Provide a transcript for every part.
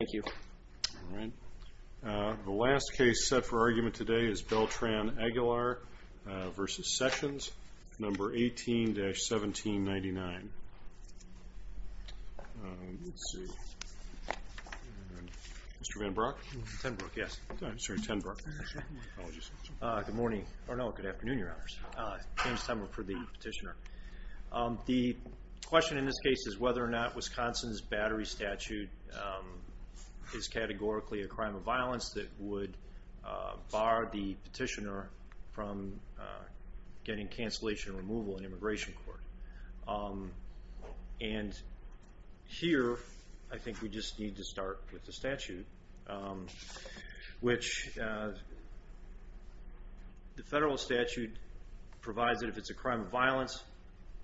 Thank you. The last case set for argument today is Beltran-Aguilar v. Sessions, No. 18-1799. Mr. Van Brock? Tenbrock, yes. I'm sorry, Tenbrock. Good morning, or no, good afternoon, Your Honors. James Tenbrock for the petitioner. The question in this case is whether or not Wisconsin's Battery Statute is categorically a crime of violence that would bar the petitioner from getting cancellation removal in immigration court. And here, I think we just need to start with the statute, which the federal statute provides that if it's a crime of violence,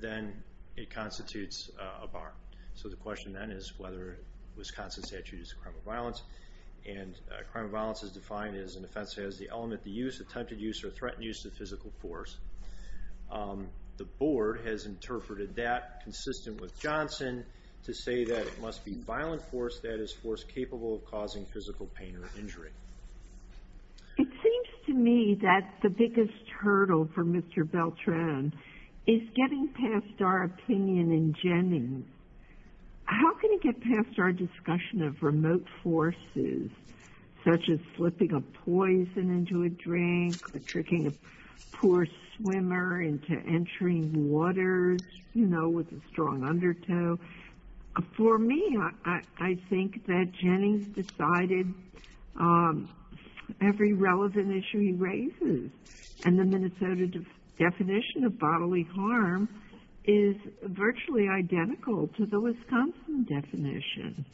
then it constitutes a bar. So the question then is whether Wisconsin's statute is a crime of violence, and a crime of violence is defined as an offense that has the element to use, attempted use, or threatened use of physical force. The board has interpreted that, consistent with Johnson, to say that it must be violent force, that is, force capable of causing physical pain or injury. It seems to me that the biggest hurdle for Mr. Beltran is getting past our opinion in Jennings. How can he get past our discussion of remote forces, such as flipping a poison into a drink, or tricking a poor swimmer into entering waters, you know, with a strong undertow? For me, I think that Jennings decided every relevant issue he raises, and the Minnesota definition of bodily harm is virtually identical to the Wisconsin definition.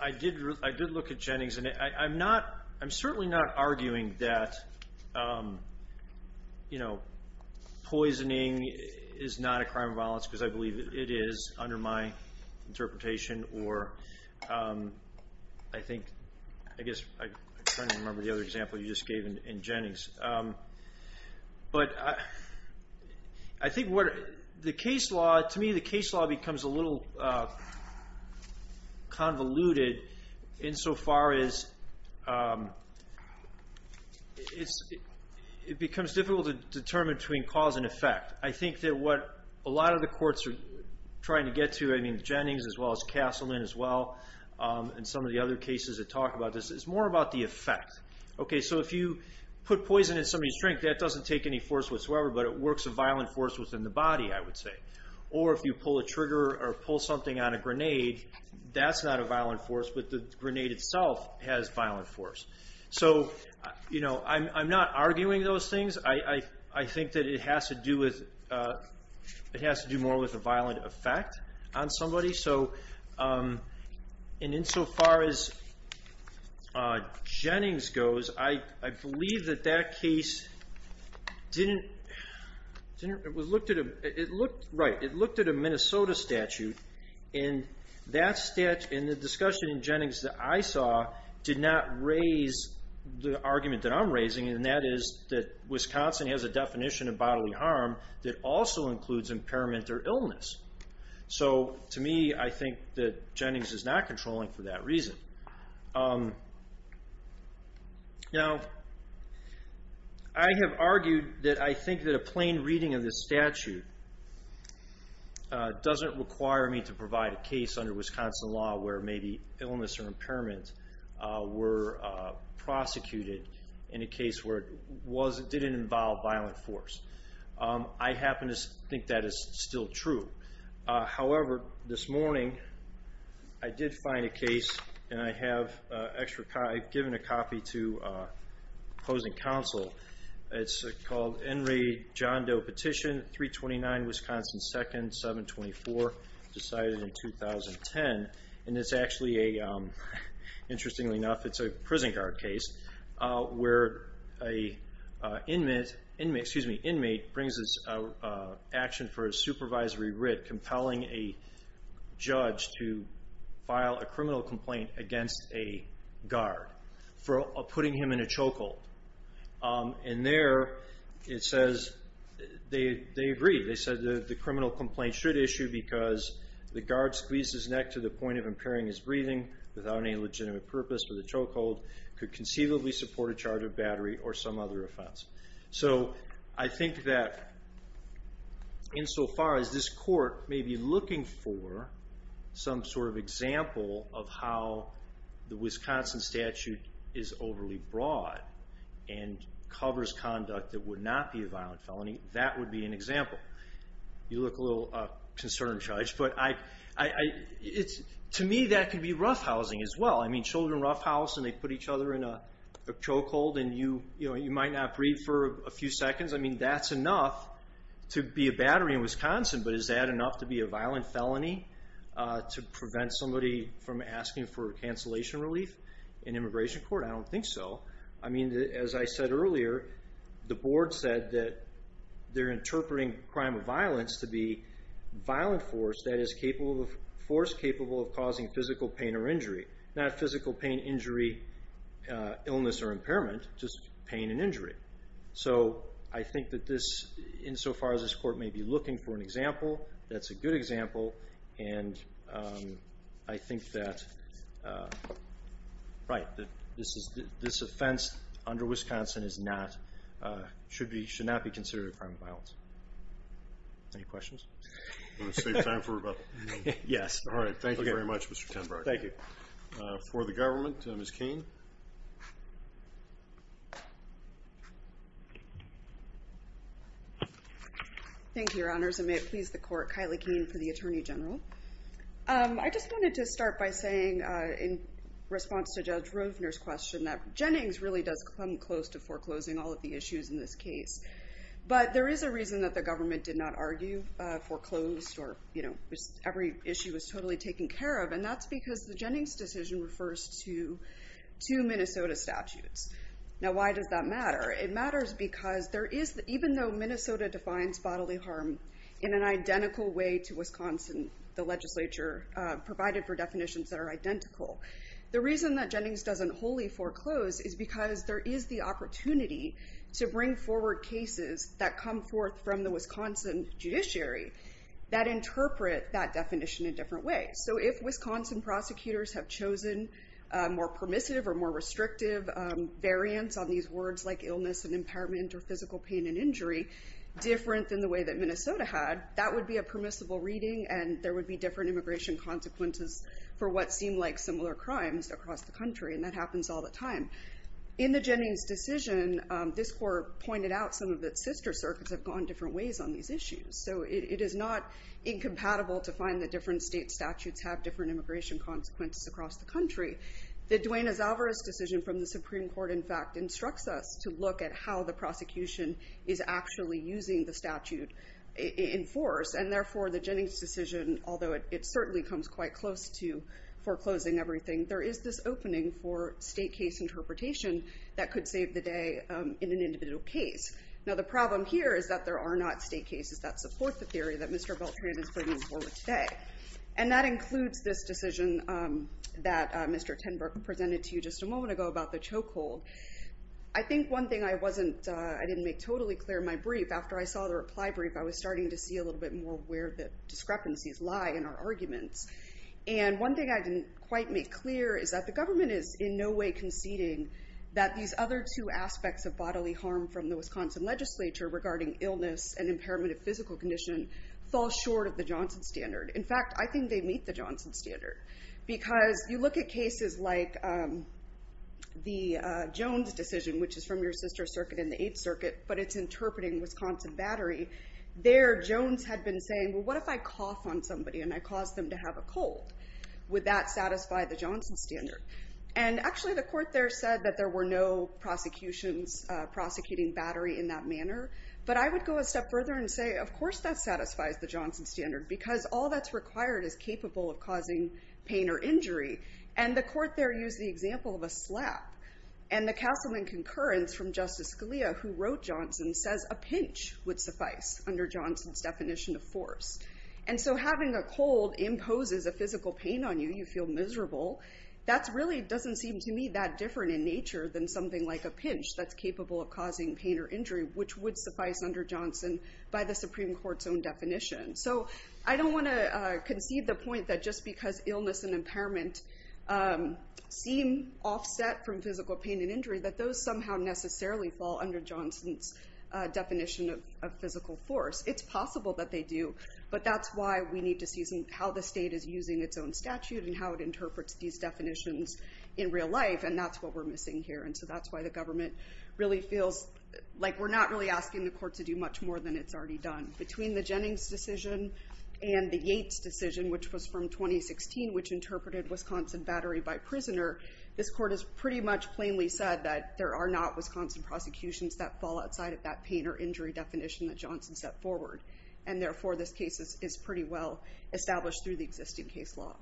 I did look at Jennings, and I'm not, I'm certainly not arguing that, you know, poisoning is not a crime of violence, because I believe it is, under my interpretation, or I think, I guess, I can't even remember the other example you just gave in Jennings. But I think what, the case law, to me, the case law becomes a little convoluted insofar as it becomes difficult to determine between cause and effect. I think that what a lot of the courts are trying to get to, I mean, Jennings as well as Castleman as well, and some of the other cases that talk about this, is more about the effect. Okay, so if you put poison in somebody's drink, that doesn't take any force whatsoever, but it works a violent force within the body, I would say. Or if you pull a trigger, or pull something on a grenade, that's not a violent force, but the grenade itself has violent force. So, you know, I'm not arguing those things. I think that it has to do with, it has to do more with a violent effect on somebody. Okay, so, and insofar as Jennings goes, I believe that that case didn't, it was looked at, it looked, right, it looked at a Minnesota statute, and that statute, and the discussion in Jennings that I saw, did not raise the argument that I'm raising, and that is that Wisconsin has a definition of bodily harm that also includes impairment or illness. So, to me, I think that Jennings is not controlling for that reason. Now, I have argued that I think that a plain reading of this statute doesn't require me to provide a case under Wisconsin law where maybe illness or impairment were prosecuted in a case where it didn't involve violent force. I happen to think that is still true. However, this morning, I did find a case, and I have extra, I've given a copy to opposing counsel. It's called Enry John Doe Petition, 329 Wisconsin 2nd, 724, decided in 2010. And it's actually a, interestingly enough, it's a prison guard case where an inmate, excuse me, an inmate brings his action for a supervisory writ compelling a judge to file a criminal complaint against a guard for putting him in a chokehold. And there, it says, they agree. They said the criminal complaint should issue because the guard squeezed his neck to the point of impairing his breathing without any legitimate purpose for the chokehold, could conceivably support a charge of battery or some other offense. So, I think that insofar as this court may be looking for some sort of example of how the Wisconsin statute is overly broad and covers conduct that would not be a violent felony, that would be an example. You look a little concerned, Judge, but to me, that could be roughhousing as well. I mean, children roughhouse, and they put each other in a chokehold, and you might not breathe for a few seconds. I mean, that's enough to be a battery in Wisconsin, but is that enough to be a violent felony to prevent somebody from asking for cancellation relief in immigration court? I don't think so. I mean, as I said earlier, the board said that they're interpreting crime of violence to be violent force, that is, force capable of causing physical pain or injury. Not physical pain, injury, illness, or impairment, just pain and injury. So, I think that this, insofar as this court may be looking for an example, that's a good example, and I think that this offense under Wisconsin should not be considered a crime of violence. Any questions? Want to save time for rebuttal? Yes. All right. Thank you very much, Mr. Tenbrach. Thank you. For the government, Ms. Cain. Thank you, Your Honors, and may it please the court, Kylie Cain for the Attorney General. I just wanted to start by saying, in response to Judge Rovner's question, that Jennings really does come close to foreclosing all of the issues in this case. But there is a reason that the government did not argue foreclosed, or every issue was totally taken care of, and that's because the Jennings decision refers to two Minnesota statutes. Now, why does that matter? It matters because there is, even though Minnesota defines bodily harm in an identical way to Wisconsin, the legislature provided for definitions that are identical, the reason that Jennings doesn't wholly foreclose is because there is the opportunity to bring forward cases that come forth from the Wisconsin judiciary that interpret that definition in different ways. So if Wisconsin prosecutors have chosen a more permissive or more restrictive variance on these words like illness and impairment or physical pain and injury, different than the way that Minnesota had, that would be a permissible reading, and there would be different immigration consequences for what seem like similar crimes across the country, and that happens all the time. In the Jennings decision, this court pointed out some of its sister circuits have gone different ways on these issues. So it is not incompatible to find that different state statutes have different immigration consequences across the country. The Duane Azavera's decision from the Supreme Court, in fact, instructs us to look at how the prosecution is actually using the statute in force, and therefore the Jennings decision, although it certainly comes quite close to foreclosing everything, there is this opening for state case interpretation that could save the day in an individual case. Now the problem here is that there are not state cases that support the theory that Mr. Beltran is bringing forward today, and that includes this decision that Mr. Tenbrook presented to you just a moment ago about the chokehold. I think one thing I didn't make totally clear in my brief, after I saw the reply brief, I was starting to see a little bit more where the discrepancies lie in our arguments, and one thing I didn't quite make clear is that the government is in no way conceding that these other two aspects of bodily harm from the Wisconsin legislature, regarding illness and impairment of physical condition, fall short of the Johnson standard. In fact, I think they meet the Johnson standard, because you look at cases like the Jones decision, which is from your sister circuit in the Eighth Circuit, but it's interpreting Wisconsin Battery. There, Jones had been saying, well, what if I cough on somebody and I cause them to have a cold? Would that satisfy the Johnson standard? And actually, the court there said that there were no prosecutions prosecuting Battery in that manner, but I would go a step further and say, of course that satisfies the Johnson standard, because all that's required is capable of causing pain or injury, and the court there used the example of a slap, and the councilman concurrence from Justice Scalia, who wrote Johnson, says a pinch would suffice under Johnson's definition of force. And so having a cold imposes a physical pain on you, you feel miserable, that really doesn't seem to me that different in nature than something like a pinch that's capable of causing pain or injury, which would suffice under Johnson by the Supreme Court's own definition. So I don't want to concede the point that just because illness and impairment seem offset from physical pain and injury, that those somehow necessarily fall under Johnson's definition of physical force. It's possible that they do, but that's why we need to see how the state is using its own statute and how it interprets these definitions in real life, and that's what we're missing here. And so that's why the government really feels like we're not really asking the court to do much more than it's already done. Between the Jennings decision and the Yates decision, which was from 2016, which interpreted Wisconsin Battery by prisoner, this court has pretty much plainly said that there are not Wisconsin prosecutions that fall outside of that pain or injury definition that Johnson set forward, and therefore this case is pretty well established through the existing case law.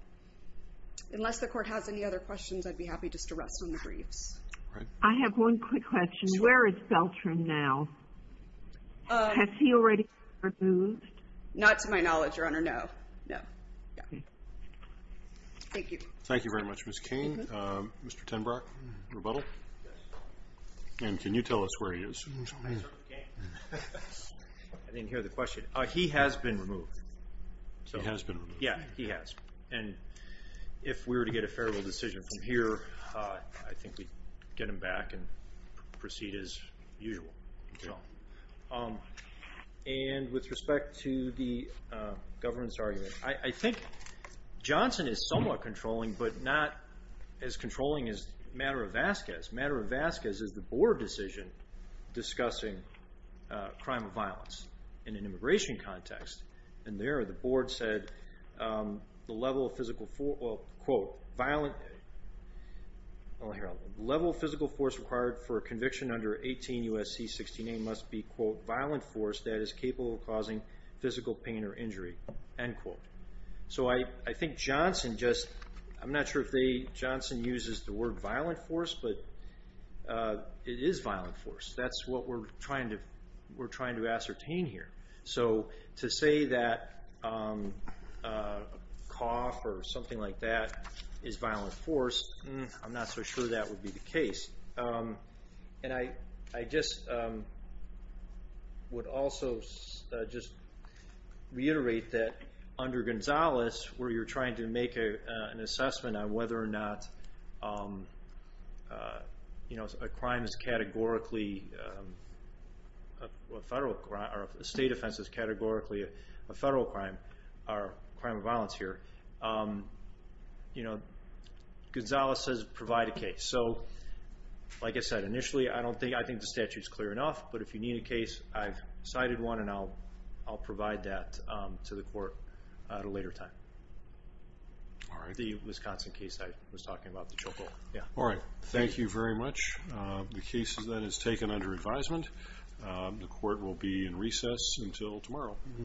Unless the court has any other questions, I'd be happy just to rest on the briefs. All right. I have one quick question. Sure. Where is Beltran now? Has he already been removed? Not to my knowledge, Your Honor, no. No. Okay. Thank you. Thank you very much, Ms. Cain. Mr. Tenbrock, rebuttal? Yes. And can you tell us where he is? I didn't hear the question. He has been removed. He has been removed. Yeah, he has. And if we were to get a favorable decision from here, I think we'd get him back and proceed as usual. Okay. And with respect to the government's argument, I think Johnson is somewhat controlling, but not as controlling as Matter of Vasquez. Matter of Vasquez is the board decision discussing crime of violence in an immigration context, and there the board said the level of physical force required for a conviction under 18 U.S.C. 16A must be, quote, violent force that is capable of causing physical pain or injury, end quote. So I think Johnson just, I'm not sure if Johnson uses the word violent force, but it is violent force. That's what we're trying to ascertain here. So to say that cough or something like that is violent force, I'm not so sure that would be the case. And I just would also just reiterate that under Gonzales, where you're trying to make an assessment on whether or not a crime is categorically a federal crime or a state offense is categorically a federal crime or crime of violence here, Gonzales says provide a case. So like I said, initially I don't think, I think the statute is clear enough, but if you need a case, I've cited one and I'll provide that to the court at a later time. The Wisconsin case I was talking about, the Choco. All right. Thank you very much. The case then is taken under advisement. The court will be in recess until tomorrow.